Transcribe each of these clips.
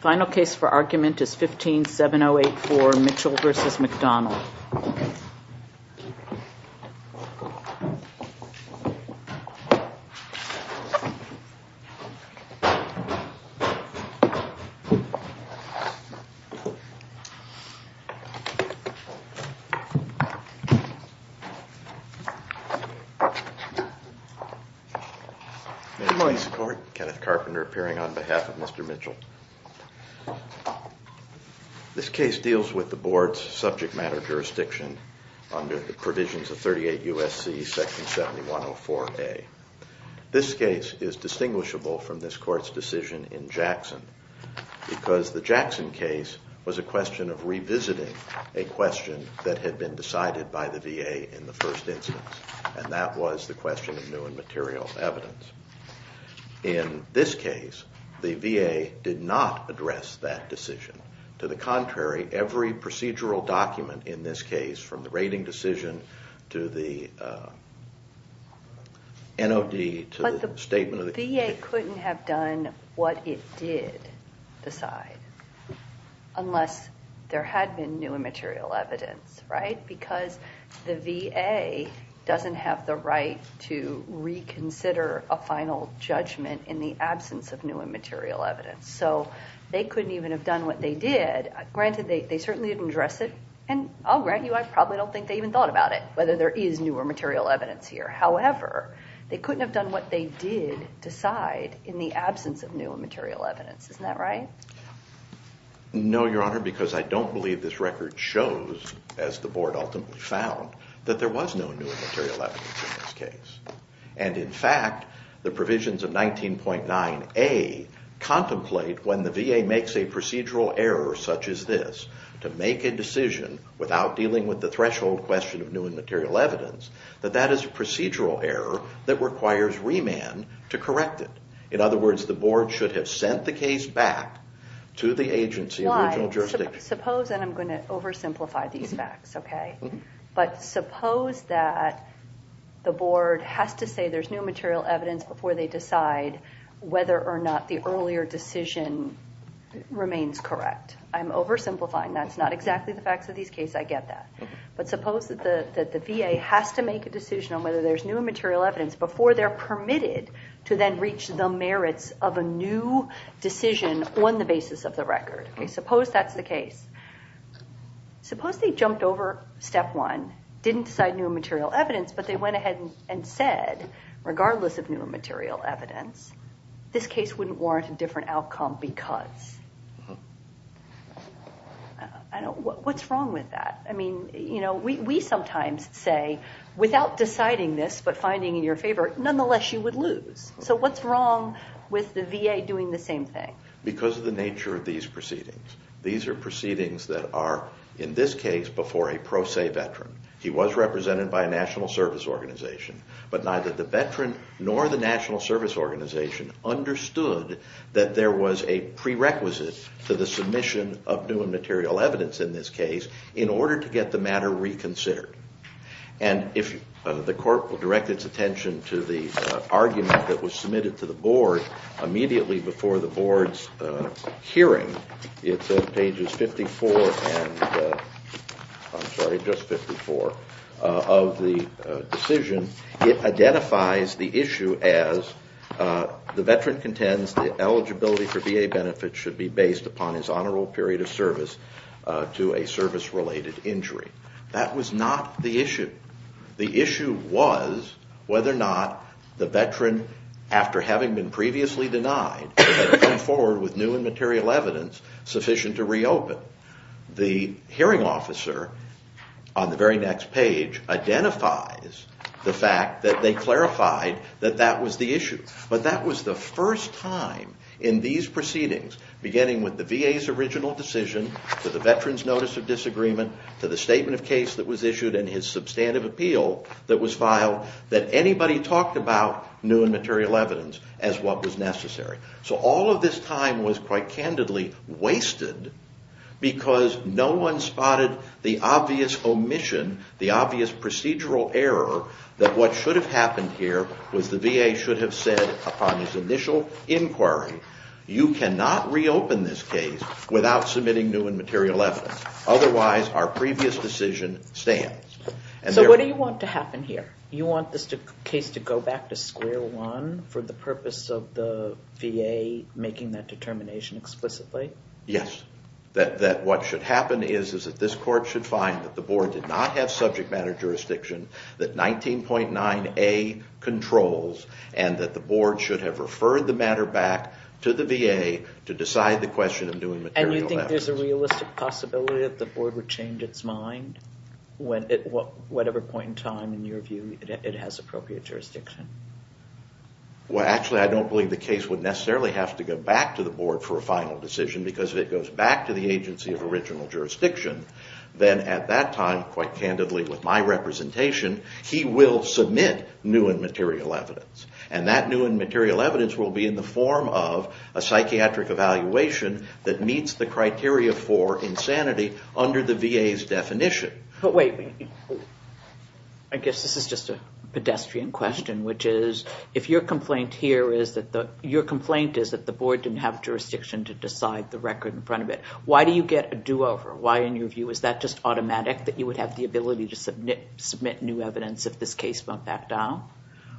Final case for argument is 15-708-4, Mitchell v. McDonald. Mr. McCord, Kenneth Carpenter appearing on behalf of Mr. Mitchell. This case deals with the board's subject matter jurisdiction under the provisions of 38 U.S.C. section 7104A. This case is distinguishable from this court's decision in Jackson because the Jackson case was a question of revisiting a question that had been decided by the VA in the first instance, and that was the question of new and material evidence. In this case, the VA did not address that decision. To the contrary, every procedural document in this case, from the rating decision to the NOD to the statement of the- The VA couldn't have done what it did decide unless there had been new and material evidence, right? Because the VA doesn't have the right to reconsider a final judgment in the absence of new and material evidence. So they couldn't even have done what they did. Granted, they certainly didn't address it, and I'll grant you I probably don't think they even thought about it, whether there is new or material evidence here. However, they couldn't have done what they did decide in the absence of new and material evidence. Isn't that right? No, Your Honor, because I don't believe this record shows, as the board ultimately found, that there was no new and material evidence in this case. And in fact, the provisions of 19.9A contemplate when the VA makes a procedural error such as this, to make a decision without dealing with the threshold question of new and material evidence, that that is a procedural error that requires remand to correct it. In other words, the board should have sent the case back to the agency- Why? Suppose, and I'm going to oversimplify these facts, okay? But suppose that the board has to say there's new and material evidence before they decide whether or not the earlier decision remains correct. I'm oversimplifying. That's not exactly the facts of these cases. I get that. But suppose that the VA has to make a decision on whether there's new and material evidence before they're permitted to then reach the merits of a new decision on the basis of the record. Okay, suppose that's the case. Suppose they jumped over step one, didn't decide new and material evidence, but they went ahead and said, regardless of new and material evidence, this case wouldn't warrant a different outcome because. What's wrong with that? I mean, you know, we sometimes say, without deciding this but finding in your favor, nonetheless, you would lose. So what's wrong with the VA doing the same thing? Because of the nature of these proceedings. These are proceedings that are, in this case, before a pro se veteran. He was represented by a national service organization. But neither the veteran nor the national service organization understood that there was a prerequisite to the submission of new and material evidence in this case in order to get the matter reconsidered. And if the court will direct its attention to the argument that was submitted to the board immediately before the board's hearing, it's on pages 54 and, I'm sorry, just 54 of the decision. It identifies the issue as the veteran contends the eligibility for VA benefits should be based upon his honorable period of service to a service-related injury. That was not the issue. The issue was whether or not the veteran, after having been previously denied, had come forward with new and material evidence sufficient to reopen. The hearing officer, on the very next page, identifies the fact that they clarified that that was the issue. But that was the first time in these proceedings, beginning with the VA's original decision, to the veteran's notice of disagreement, to the statement of case that was issued and his substantive appeal that was filed, that anybody talked about new and material evidence as what was necessary. So all of this time was quite candidly wasted because no one spotted the obvious omission, the obvious procedural error that what should have happened here was the VA should have said upon his initial inquiry, you cannot reopen this case without submitting new and material evidence. Otherwise, our previous decision stands. So what do you want to happen here? You want this case to go back to square one for the purpose of the VA making that determination explicitly? Yes. That what should happen is that this court should find that the board did not have subject matter jurisdiction, that 19.9a controls, and that the board should have referred the matter back to the VA to decide the question of doing material evidence. And you think there's a realistic possibility that the board would change its mind at whatever point in time, in your view, it has appropriate jurisdiction? Well, actually, I don't believe the case would necessarily have to go back to the board for a final decision because if it goes back to the agency of original jurisdiction, then at that time, quite candidly with my representation, he will submit new and material evidence. And that new and material evidence will be in the form of a psychiatric evaluation that meets the criteria for insanity under the VA's definition. But wait. I guess this is just a pedestrian question, which is if your complaint here is that the board didn't have jurisdiction to decide the record in front of it, why do you get a do-over? Why, in your view, is that just automatic that you would have the ability to submit new evidence if this case went back down?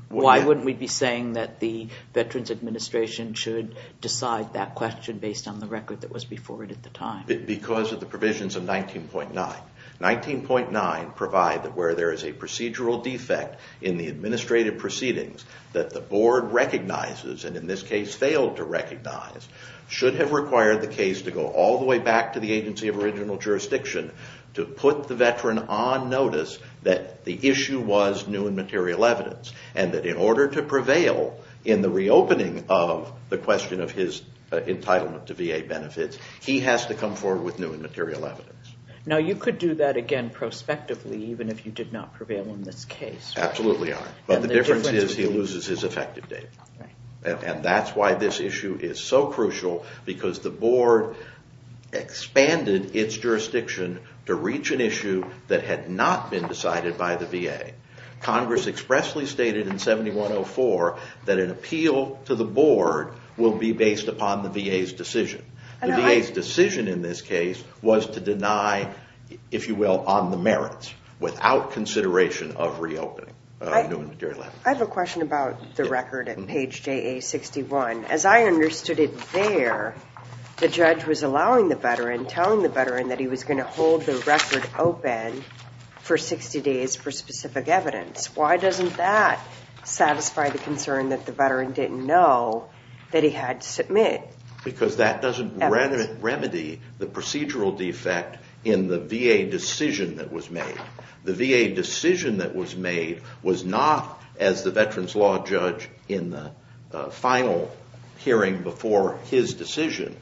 Why wouldn't we be saying that the Veterans Administration should decide that question based on the record that was before it at the time? Because of the provisions of 19.9. 19.9 provides that where there is a procedural defect in the administrative proceedings that the board recognizes, and in this case failed to recognize, should have required the case to go all the way back to the agency of original jurisdiction to put the veteran on notice that the issue was new and material evidence. And that in order to prevail in the reopening of the question of his entitlement to VA benefits, he has to come forward with new and material evidence. Now, you could do that again prospectively, even if you did not prevail in this case. Absolutely. But the difference is he loses his effective date. And that's why this issue is so crucial, because the board expanded its jurisdiction to reach an issue that had not been decided by the VA. Congress expressly stated in 7104 that an appeal to the board will be based upon the VA's decision. The VA's decision in this case was to deny, if you will, on the merits without consideration of reopening new and material evidence. I have a question about the record at page JA-61. As I understood it there, the judge was allowing the veteran, telling the veteran that he was going to hold the record open for 60 days for specific evidence. Why doesn't that satisfy the concern that the veteran didn't know that he had to submit? Because that doesn't remedy the procedural defect in the VA decision that was made. The VA decision that was made was not as the veteran's law judge in the final hearing before his decision.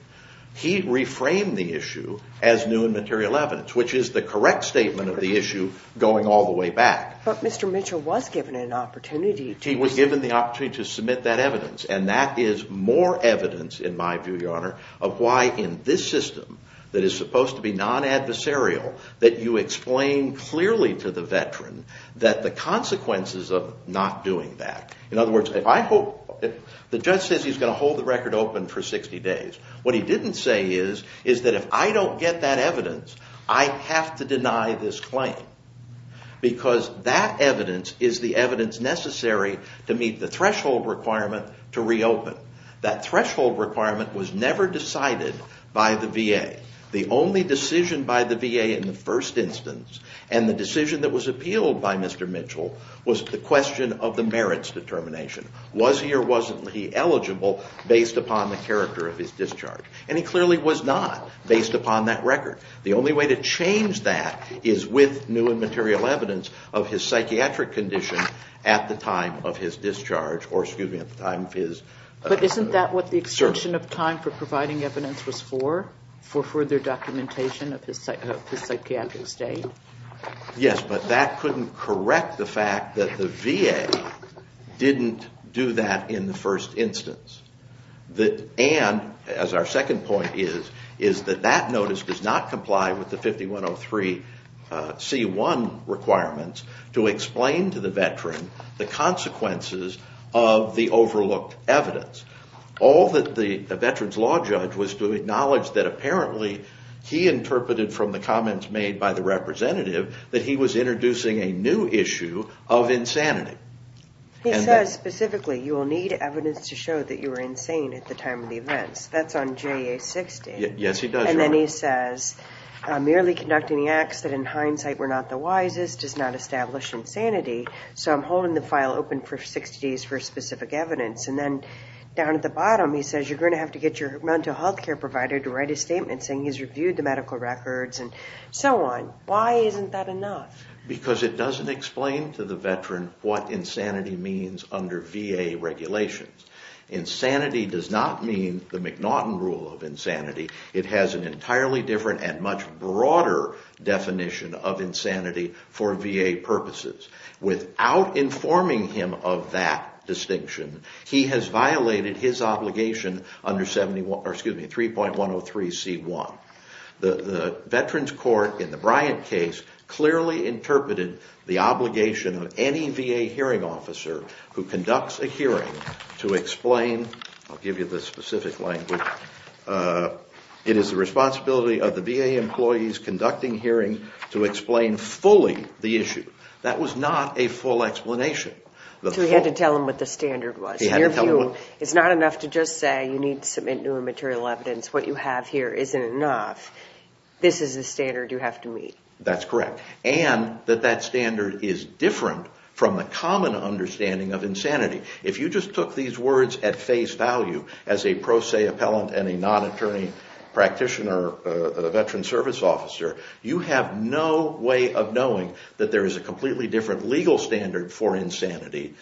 He reframed the issue as new and material evidence, which is the correct statement of the issue going all the way back. But Mr. Mitchell was given an opportunity. He was given the opportunity to submit that evidence. And that is more evidence, in my view, Your Honor, of why in this system that is supposed to be non-adversarial, that you explain clearly to the veteran that the consequences of not doing that. In other words, the judge says he's going to hold the record open for 60 days. What he didn't say is that if I don't get that evidence, I have to deny this claim. Because that evidence is the evidence necessary to meet the threshold requirement to reopen. That threshold requirement was never decided by the VA. The only decision by the VA in the first instance, and the decision that was appealed by Mr. Mitchell, was the question of the merits determination. Was he or wasn't he eligible based upon the character of his discharge? And he clearly was not, based upon that record. The only way to change that is with new and material evidence of his psychiatric condition at the time of his discharge, or excuse me, at the time of his... further documentation of his psychiatric state. Yes, but that couldn't correct the fact that the VA didn't do that in the first instance. And, as our second point is, is that that notice does not comply with the 5103C1 requirements to explain to the veteran the consequences of the overlooked evidence. All that the veteran's law judge was to acknowledge that apparently he interpreted from the comments made by the representative that he was introducing a new issue of insanity. He says specifically, you will need evidence to show that you were insane at the time of the events. That's on JA-60. Yes, he does. And then he says, merely conducting the acts that in hindsight were not the wisest does not establish insanity. So I'm holding the file open for 60 days for specific evidence. And then down at the bottom he says you're going to have to get your mental health care provider to write a statement saying he's reviewed the medical records and so on. Why isn't that enough? Because it doesn't explain to the veteran what insanity means under VA regulations. Insanity does not mean the McNaughton rule of insanity. It has an entirely different and much broader definition of insanity for VA purposes. Without informing him of that distinction, he has violated his obligation under 3.103C1. The Veterans Court in the Bryant case clearly interpreted the obligation of any VA hearing officer who conducts a hearing to explain. I'll give you the specific language. It is the responsibility of the VA employees conducting hearing to explain fully the issue. That was not a full explanation. So he had to tell him what the standard was. It's not enough to just say you need to submit new and material evidence. What you have here isn't enough. This is the standard you have to meet. That's correct. And that that standard is different from the common understanding of insanity. If you just took these words at face value as a pro se appellant and a non-attorney practitioner, a veteran service officer, you have no way of knowing that there is a completely different legal standard for insanity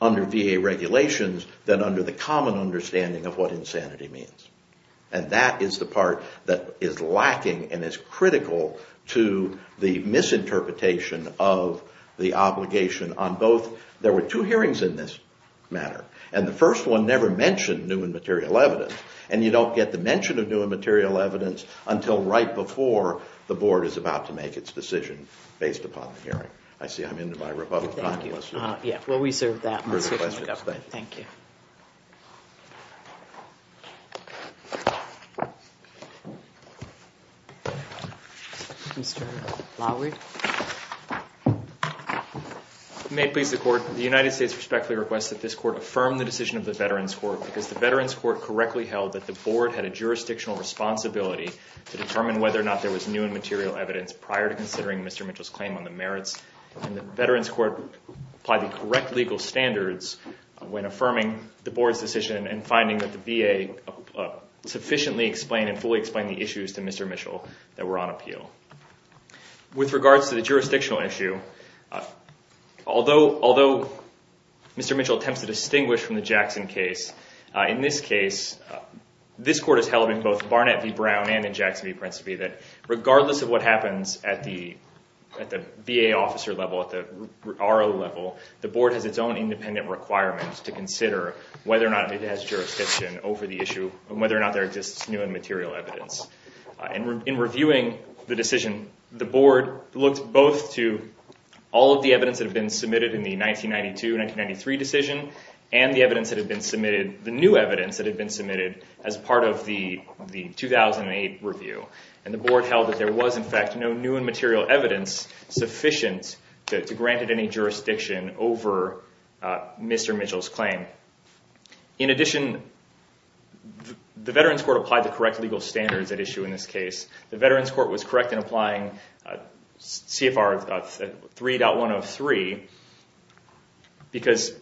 under VA regulations than under the common understanding of what insanity means. And that is the part that is lacking and is critical to the misinterpretation of the obligation on both. There were two hearings in this matter. And the first one never mentioned new and material evidence. And you don't get the mention of new and material evidence until right before the board is about to make its decision based upon the hearing. I see I'm into my rebuttal time. Thank you. We'll reserve that. Thank you. May it please the court, the United States respectfully requests that this court affirm the decision of the Veterans Court because the Veterans Court correctly held that the board had a jurisdictional responsibility to determine whether or not there was new and material evidence prior to considering Mr. Mitchell's claim on the merits. And the Veterans Court applied the correct legal standards when affirming the board's decision and finding that the VA sufficiently explained and fully explained the issues to Mr. Mitchell that were on appeal. With regards to the jurisdictional issue, although Mr. Mitchell attempts to distinguish from the Jackson case, in this case this court has held in both Barnett v. Brown and in Jackson v. Principe that regardless of what happens at the VA officer level, at the RO level, the board has its own independent requirements to consider whether or not it has jurisdiction over the issue and whether or not there exists new and material evidence. In reviewing the decision, the board looked both to all of the evidence that had been submitted in the 1992-1993 decision and the new evidence that had been submitted as part of the 2008 review. And the board held that there was, in fact, no new and material evidence sufficient to grant it any jurisdiction over Mr. Mitchell's claim. In addition, the Veterans Court applied the correct legal standards at issue in this case. The Veterans Court was correct in applying CFR 3.103 because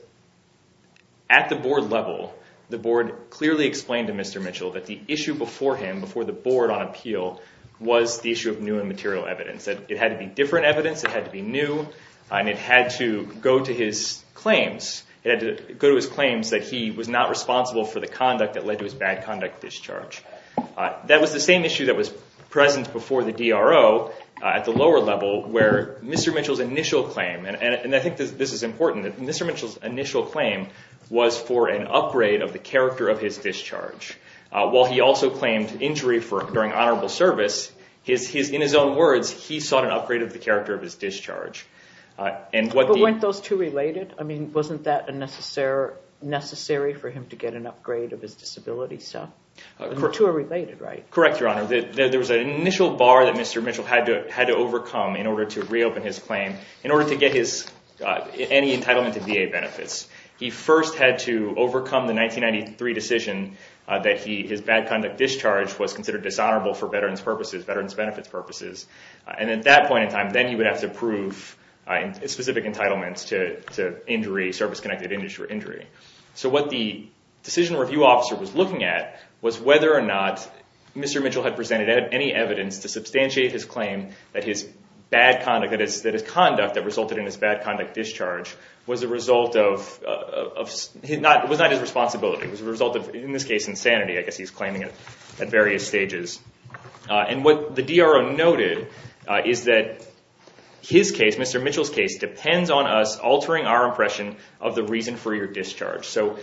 at the board level, the board clearly explained to Mr. Mitchell that the issue before him, before the board on appeal, was the issue of new and material evidence, that it had to be different evidence, it had to be new, and it had to go to his claims that he was not responsible for the conduct that led to his bad conduct discharge. That was the same issue that was present before the DRO at the lower level where Mr. Mitchell's initial claim, and I think this is important, that Mr. Mitchell's initial claim was for an upgrade of the character of his discharge. While he also claimed injury during honorable service, in his own words, he sought an upgrade of the character of his discharge. But weren't those two related? I mean, wasn't that necessary for him to get an upgrade of his disability? The two are related, right? Correct, Your Honor. There was an initial bar that Mr. Mitchell had to overcome in order to reopen his claim, in order to get any entitlement to VA benefits. He first had to overcome the 1993 decision that his bad conduct discharge was considered dishonorable for veterans' purposes, veterans' benefits purposes. And at that point in time, then he would have to prove specific entitlements to injury, service-connected injury. So what the decision review officer was looking at was whether or not Mr. Mitchell had presented any evidence to substantiate his claim that his bad conduct, that his conduct that resulted in his bad conduct discharge, was a result of not his responsibility, it was a result of, in this case, insanity. I guess he's claiming it at various stages. And what the DRO noted is that his case, Mr. Mitchell's case, depends on us altering our impression of the reason for your discharge. So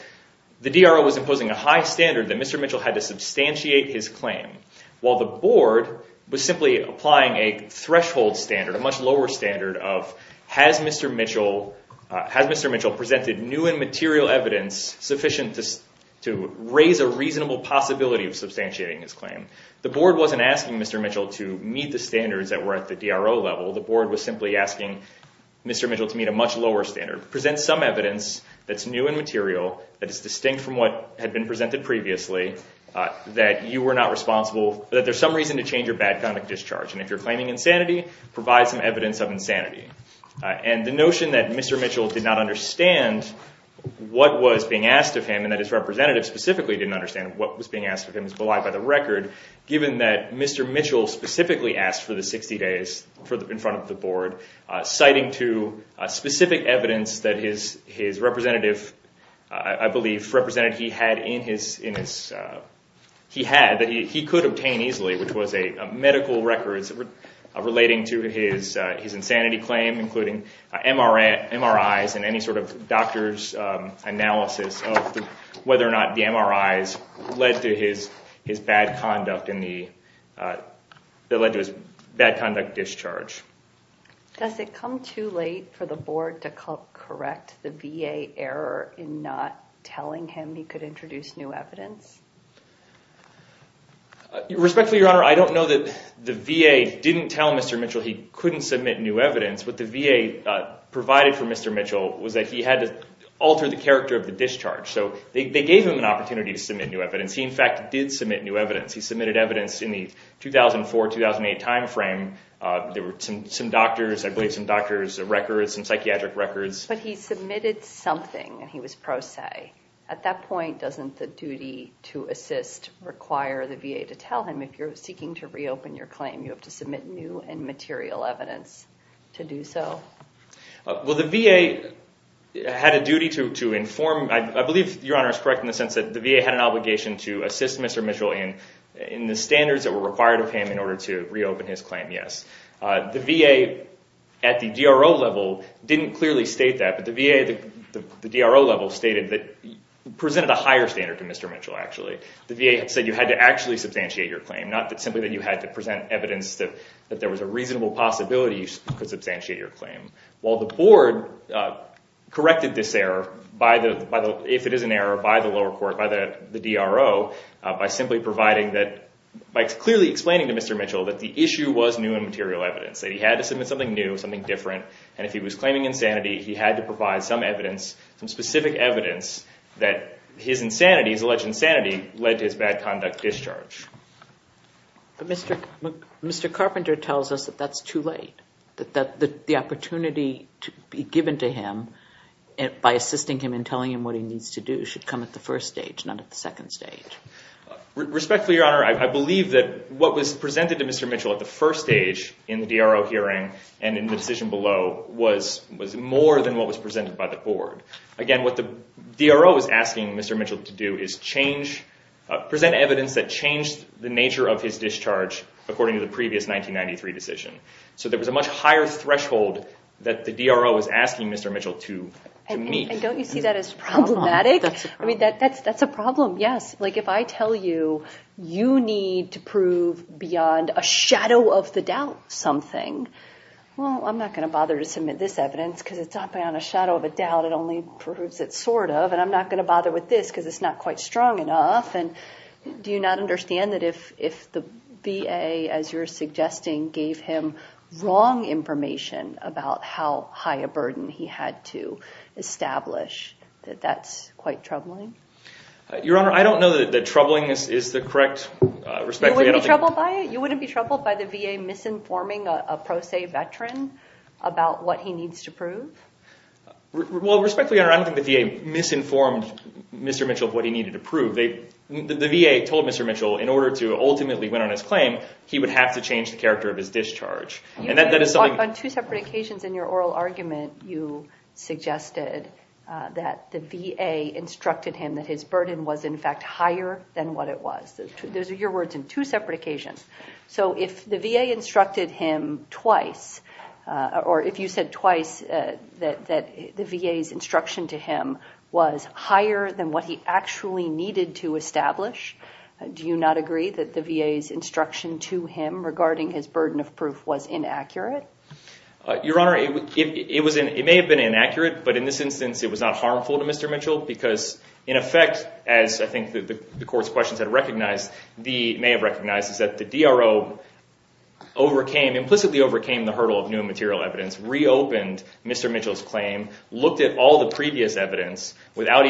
the DRO was imposing a high standard that Mr. Mitchell had to substantiate his claim, while the board was simply applying a threshold standard, a much lower standard, of has Mr. Mitchell presented new and material evidence sufficient to raise a reasonable possibility of substantiating his claim. The board wasn't asking Mr. Mitchell to meet the standards that were at the DRO level. The board was simply asking Mr. Mitchell to meet a much lower standard, present some evidence that's new and material, that is distinct from what had been presented previously, that you were not responsible, that there's some reason to change your bad conduct discharge. And if you're claiming insanity, provide some evidence of insanity. And the notion that Mr. Mitchell did not understand what was being asked of him, and that his representative specifically didn't understand what was being asked of him is belied by the record, given that Mr. Mitchell specifically asked for the 60 days in front of the board, citing to specific evidence that his representative, I believe, that he could obtain easily, which was a medical record relating to his insanity claim, including MRIs and any sort of doctor's analysis of whether or not the MRIs led to his bad conduct discharge. Does it come too late for the board to correct the VA error in not telling him he could introduce new evidence? Respectfully, Your Honor, I don't know that the VA didn't tell Mr. Mitchell he couldn't submit new evidence. What the VA provided for Mr. Mitchell was that he had to alter the character of the discharge. So they gave him an opportunity to submit new evidence. He, in fact, did submit new evidence. He submitted evidence in the 2004-2008 timeframe. There were some doctors, I believe some doctors' records, some psychiatric records. But he submitted something, and he was pro se. At that point, doesn't the duty to assist require the VA to tell him, if you're seeking to reopen your claim, you have to submit new and material evidence to do so? Well, the VA had a duty to inform. I believe Your Honor is correct in the sense that the VA had an obligation to assist Mr. Mitchell in the standards that were required of him in order to reopen his claim, yes. The VA at the DRO level didn't clearly state that, but the VA at the DRO level presented a higher standard to Mr. Mitchell, actually. The VA said you had to actually substantiate your claim, not simply that you had to present evidence that there was a reasonable possibility you could substantiate your claim. While the board corrected this error, if it is an error, by the lower court, by the DRO, by simply providing that, by clearly explaining to Mr. Mitchell that the issue was new and material evidence, that he had to submit something new, something different. And if he was claiming insanity, he had to provide some evidence, some specific evidence that his insanity, his alleged insanity, led to his bad conduct discharge. But Mr. Carpenter tells us that that's too late, that the opportunity to be given to him by assisting him and telling him what he needs to do should come at the first stage, not at the second stage. Respectfully, Your Honor, I believe that what was presented to Mr. Mitchell at the first stage in the DRO hearing and in the decision below was more than what was presented by the board. Again, what the DRO is asking Mr. Mitchell to do is change, present evidence that changed the nature of his discharge according to the previous 1993 decision. So there was a much higher threshold that the DRO was asking Mr. Mitchell to meet. And don't you see that as problematic? I mean, that's a problem, yes. Like, if I tell you you need to prove beyond a shadow of the doubt something, well, I'm not going to bother to submit this evidence because it's not beyond a shadow of a doubt, it only proves it sort of, and I'm not going to bother with this because it's not quite strong enough. And do you not understand that if the VA, as you're suggesting, gave him wrong information about how high a burden he had to establish, that that's quite troubling? Your Honor, I don't know that troubling is the correct – You wouldn't be troubled by it? You wouldn't be troubled by the VA misinforming a pro se veteran about what he needs to prove? Well, respectfully, Your Honor, I don't think the VA misinformed Mr. Mitchell of what he needed to prove. The VA told Mr. Mitchell in order to ultimately win on his claim, he would have to change the character of his discharge. On two separate occasions in your oral argument, you suggested that the VA instructed him that his burden was, in fact, higher than what it was. Those are your words in two separate occasions. So if the VA instructed him twice, or if you said twice that the VA's instruction to him was higher than what he actually needed to establish, do you not agree that the VA's instruction to him regarding his burden of proof was inaccurate? Your Honor, it may have been inaccurate, but in this instance, it was not harmful to Mr. Mitchell because, in effect, as I think the court's questions may have recognized, is that the DRO implicitly overcame the hurdle of new material evidence, reopened Mr. Mitchell's claim, looked at all the previous evidence without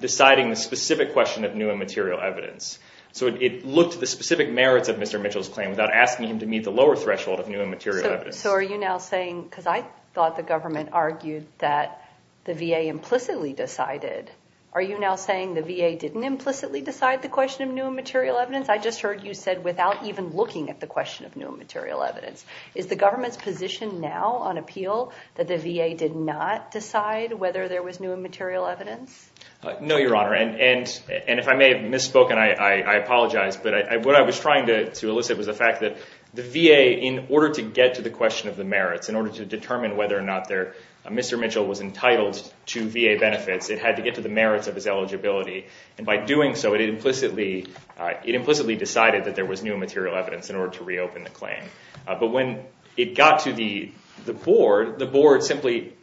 deciding the specific question of new and material evidence. So it looked at the specific merits of Mr. Mitchell's claim without asking him to meet the lower threshold of new and material evidence. So are you now saying, because I thought the government argued that the VA implicitly decided, are you now saying the VA didn't implicitly decide the question of new and material evidence? I just heard you said without even looking at the question of new and material evidence. Is the government's position now on appeal that the VA did not decide whether there was new and material evidence? No, Your Honor, and if I may have misspoken, I apologize. But what I was trying to elicit was the fact that the VA, in order to get to the question of the merits, in order to determine whether or not Mr. Mitchell was entitled to VA benefits, it had to get to the merits of his eligibility. And by doing so, it implicitly decided that there was new and material evidence in order to reopen the claim. But when it got to the board, the board simply,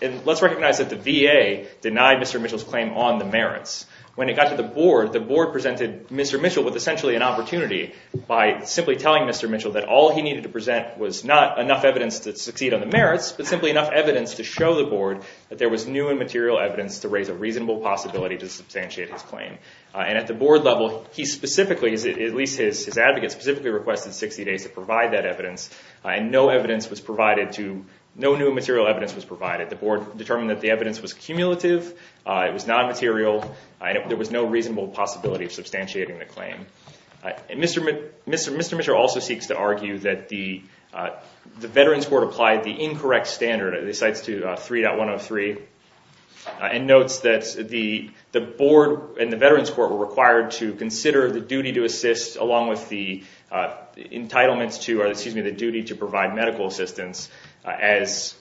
and let's recognize that the VA denied Mr. Mitchell's claim on the merits. When it got to the board, the board presented Mr. Mitchell with essentially an opportunity by simply telling Mr. Mitchell that all he needed to present was not enough evidence to succeed on the merits, but simply enough evidence to show the board that there was new and material evidence to raise a reasonable possibility to substantiate his claim. And at the board level, he specifically, at least his advocate, specifically requested 60 days to provide that evidence, and no evidence was provided to, no new and material evidence was provided. The board determined that the evidence was cumulative, it was non-material, and there was no reasonable possibility of substantiating the claim. Mr. Mitchell also seeks to argue that the Veterans Court applied the incorrect standard, it recites to 3.103, and notes that the board and the Veterans Court were required to consider the duty to assist along with the entitlements to, or excuse me, the duty to provide medical assistance, as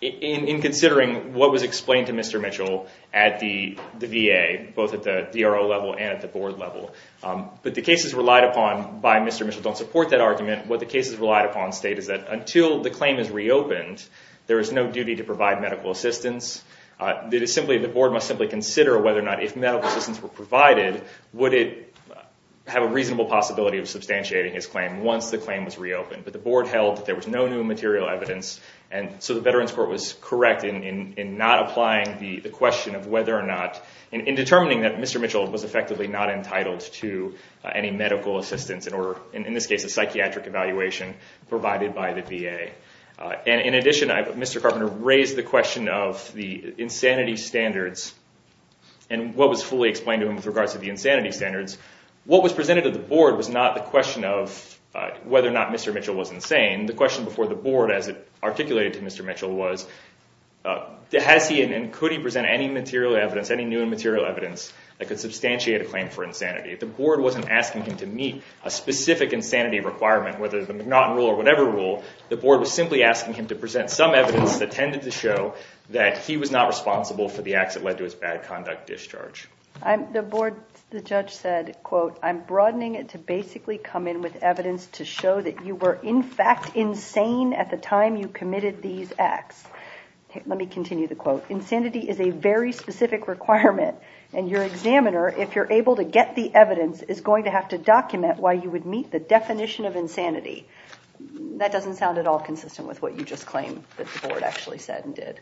in considering what was explained to Mr. Mitchell at the VA, both at the DRO level and at the board level. But the cases relied upon by Mr. Mitchell don't support that argument. What the cases relied upon state is that until the claim is reopened, there is no duty to provide medical assistance. The board must simply consider whether or not if medical assistance were provided, would it have a reasonable possibility of substantiating his claim once the claim was reopened. But the board held that there was no new and material evidence, and so the Veterans Court was correct in not applying the question of whether or not, in determining that Mr. Mitchell was effectively not entitled to any medical assistance, in this case a psychiatric evaluation provided by the VA. In addition, Mr. Carpenter raised the question of the insanity standards and what was fully explained to him with regards to the insanity standards. What was presented to the board was not the question of whether or not Mr. Mitchell was insane. The question before the board as it articulated to Mr. Mitchell was, has he and could he present any new and material evidence that could substantiate a claim for insanity. If the board wasn't asking him to meet a specific insanity requirement, whether the McNaughton rule or whatever rule, the board was simply asking him to present some evidence that tended to show that he was not responsible for the acts that led to his bad conduct discharge. The board, the judge said, quote, I'm broadening it to basically come in with evidence to show that you were in fact insane at the time you committed these acts. Let me continue the quote. Insanity is a very specific requirement, and your examiner, if you're able to get the evidence, is going to have to document why you would meet the definition of insanity. That doesn't sound at all consistent with what you just claimed that the board actually said and did.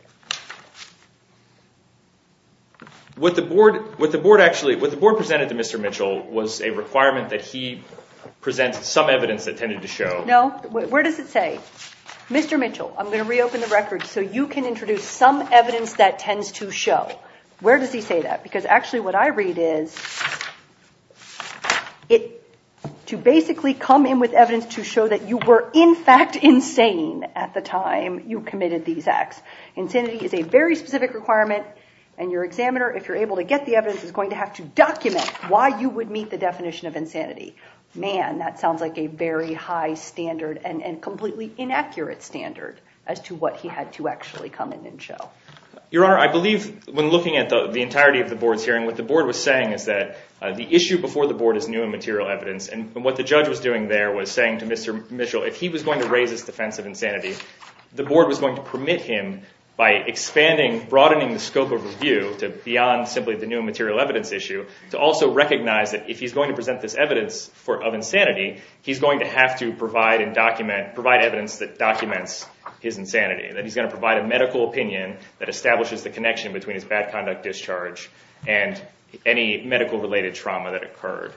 What the board actually, what the board presented to Mr. Mitchell was a requirement that he present some evidence that tended to show. No, where does it say? Mr. Mitchell, I'm going to reopen the record so you can introduce some evidence that tends to show. Where does he say that? Because actually what I read is to basically come in with evidence to show that you were in fact insane at the time you committed these acts. Insanity is a very specific requirement, and your examiner, if you're able to get the evidence, is going to have to document why you would meet the definition of insanity. Man, that sounds like a very high standard and completely inaccurate standard as to what he had to actually come in and show. Your Honor, I believe when looking at the entirety of the board's hearing, what the board was saying is that the issue before the board is new and material evidence, and what the judge was doing there was saying to Mr. Mitchell, if he was going to raise his defense of insanity, the board was going to permit him by expanding, broadening the scope of review to beyond simply the new and material evidence issue, to also recognize that if he's going to present this evidence of insanity, he's going to have to provide evidence that documents his insanity, that he's going to provide a medical opinion that establishes the connection between his bad conduct discharge and any medical-related trauma that occurred.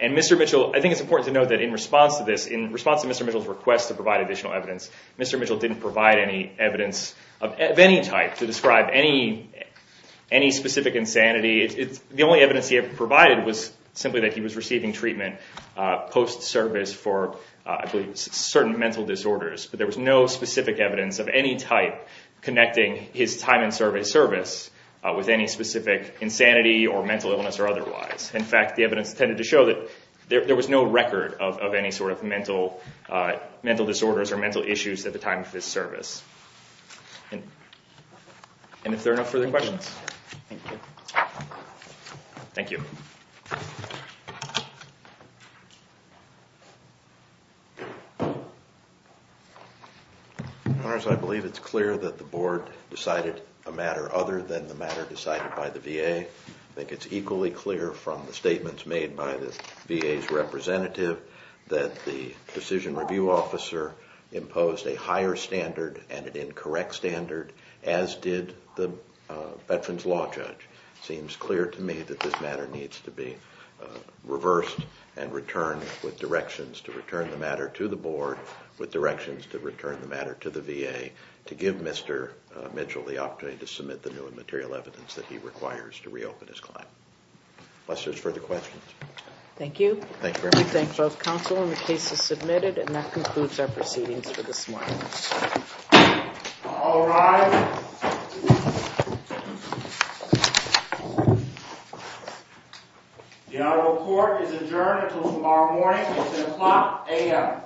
And Mr. Mitchell, I think it's important to note that in response to this, in response to Mr. Mitchell's request to provide additional evidence, Mr. Mitchell didn't provide any evidence of any type to describe any specific insanity. The only evidence he had provided was simply that he was receiving treatment post-service for, I believe, certain mental disorders, but there was no specific evidence of any type connecting his time in service with any specific insanity or mental illness or otherwise. In fact, the evidence tended to show that there was no record of any sort of mental disorders or mental issues at the time of his service. And if there are no further questions. Thank you. Thank you. Honors, I believe it's clear that the Board decided a matter other than the matter decided by the VA. I think it's equally clear from the statements made by the VA's representative that the decision review officer imposed a higher standard and an incorrect standard, as did the Veterans Law Judge. It seems clear to me that this matter needs to be reversed and returned with directions to return the matter to the Board with directions to return the matter to the VA to give Mr. Mitchell the opportunity to submit the new and material evidence that he requires to reopen his client. Unless there's further questions. Thank you. Thank you. We thank both counsel and the cases submitted. And that concludes our proceedings for this morning. All rise. The Honorable Court is adjourned until tomorrow morning at 10 o'clock a.m.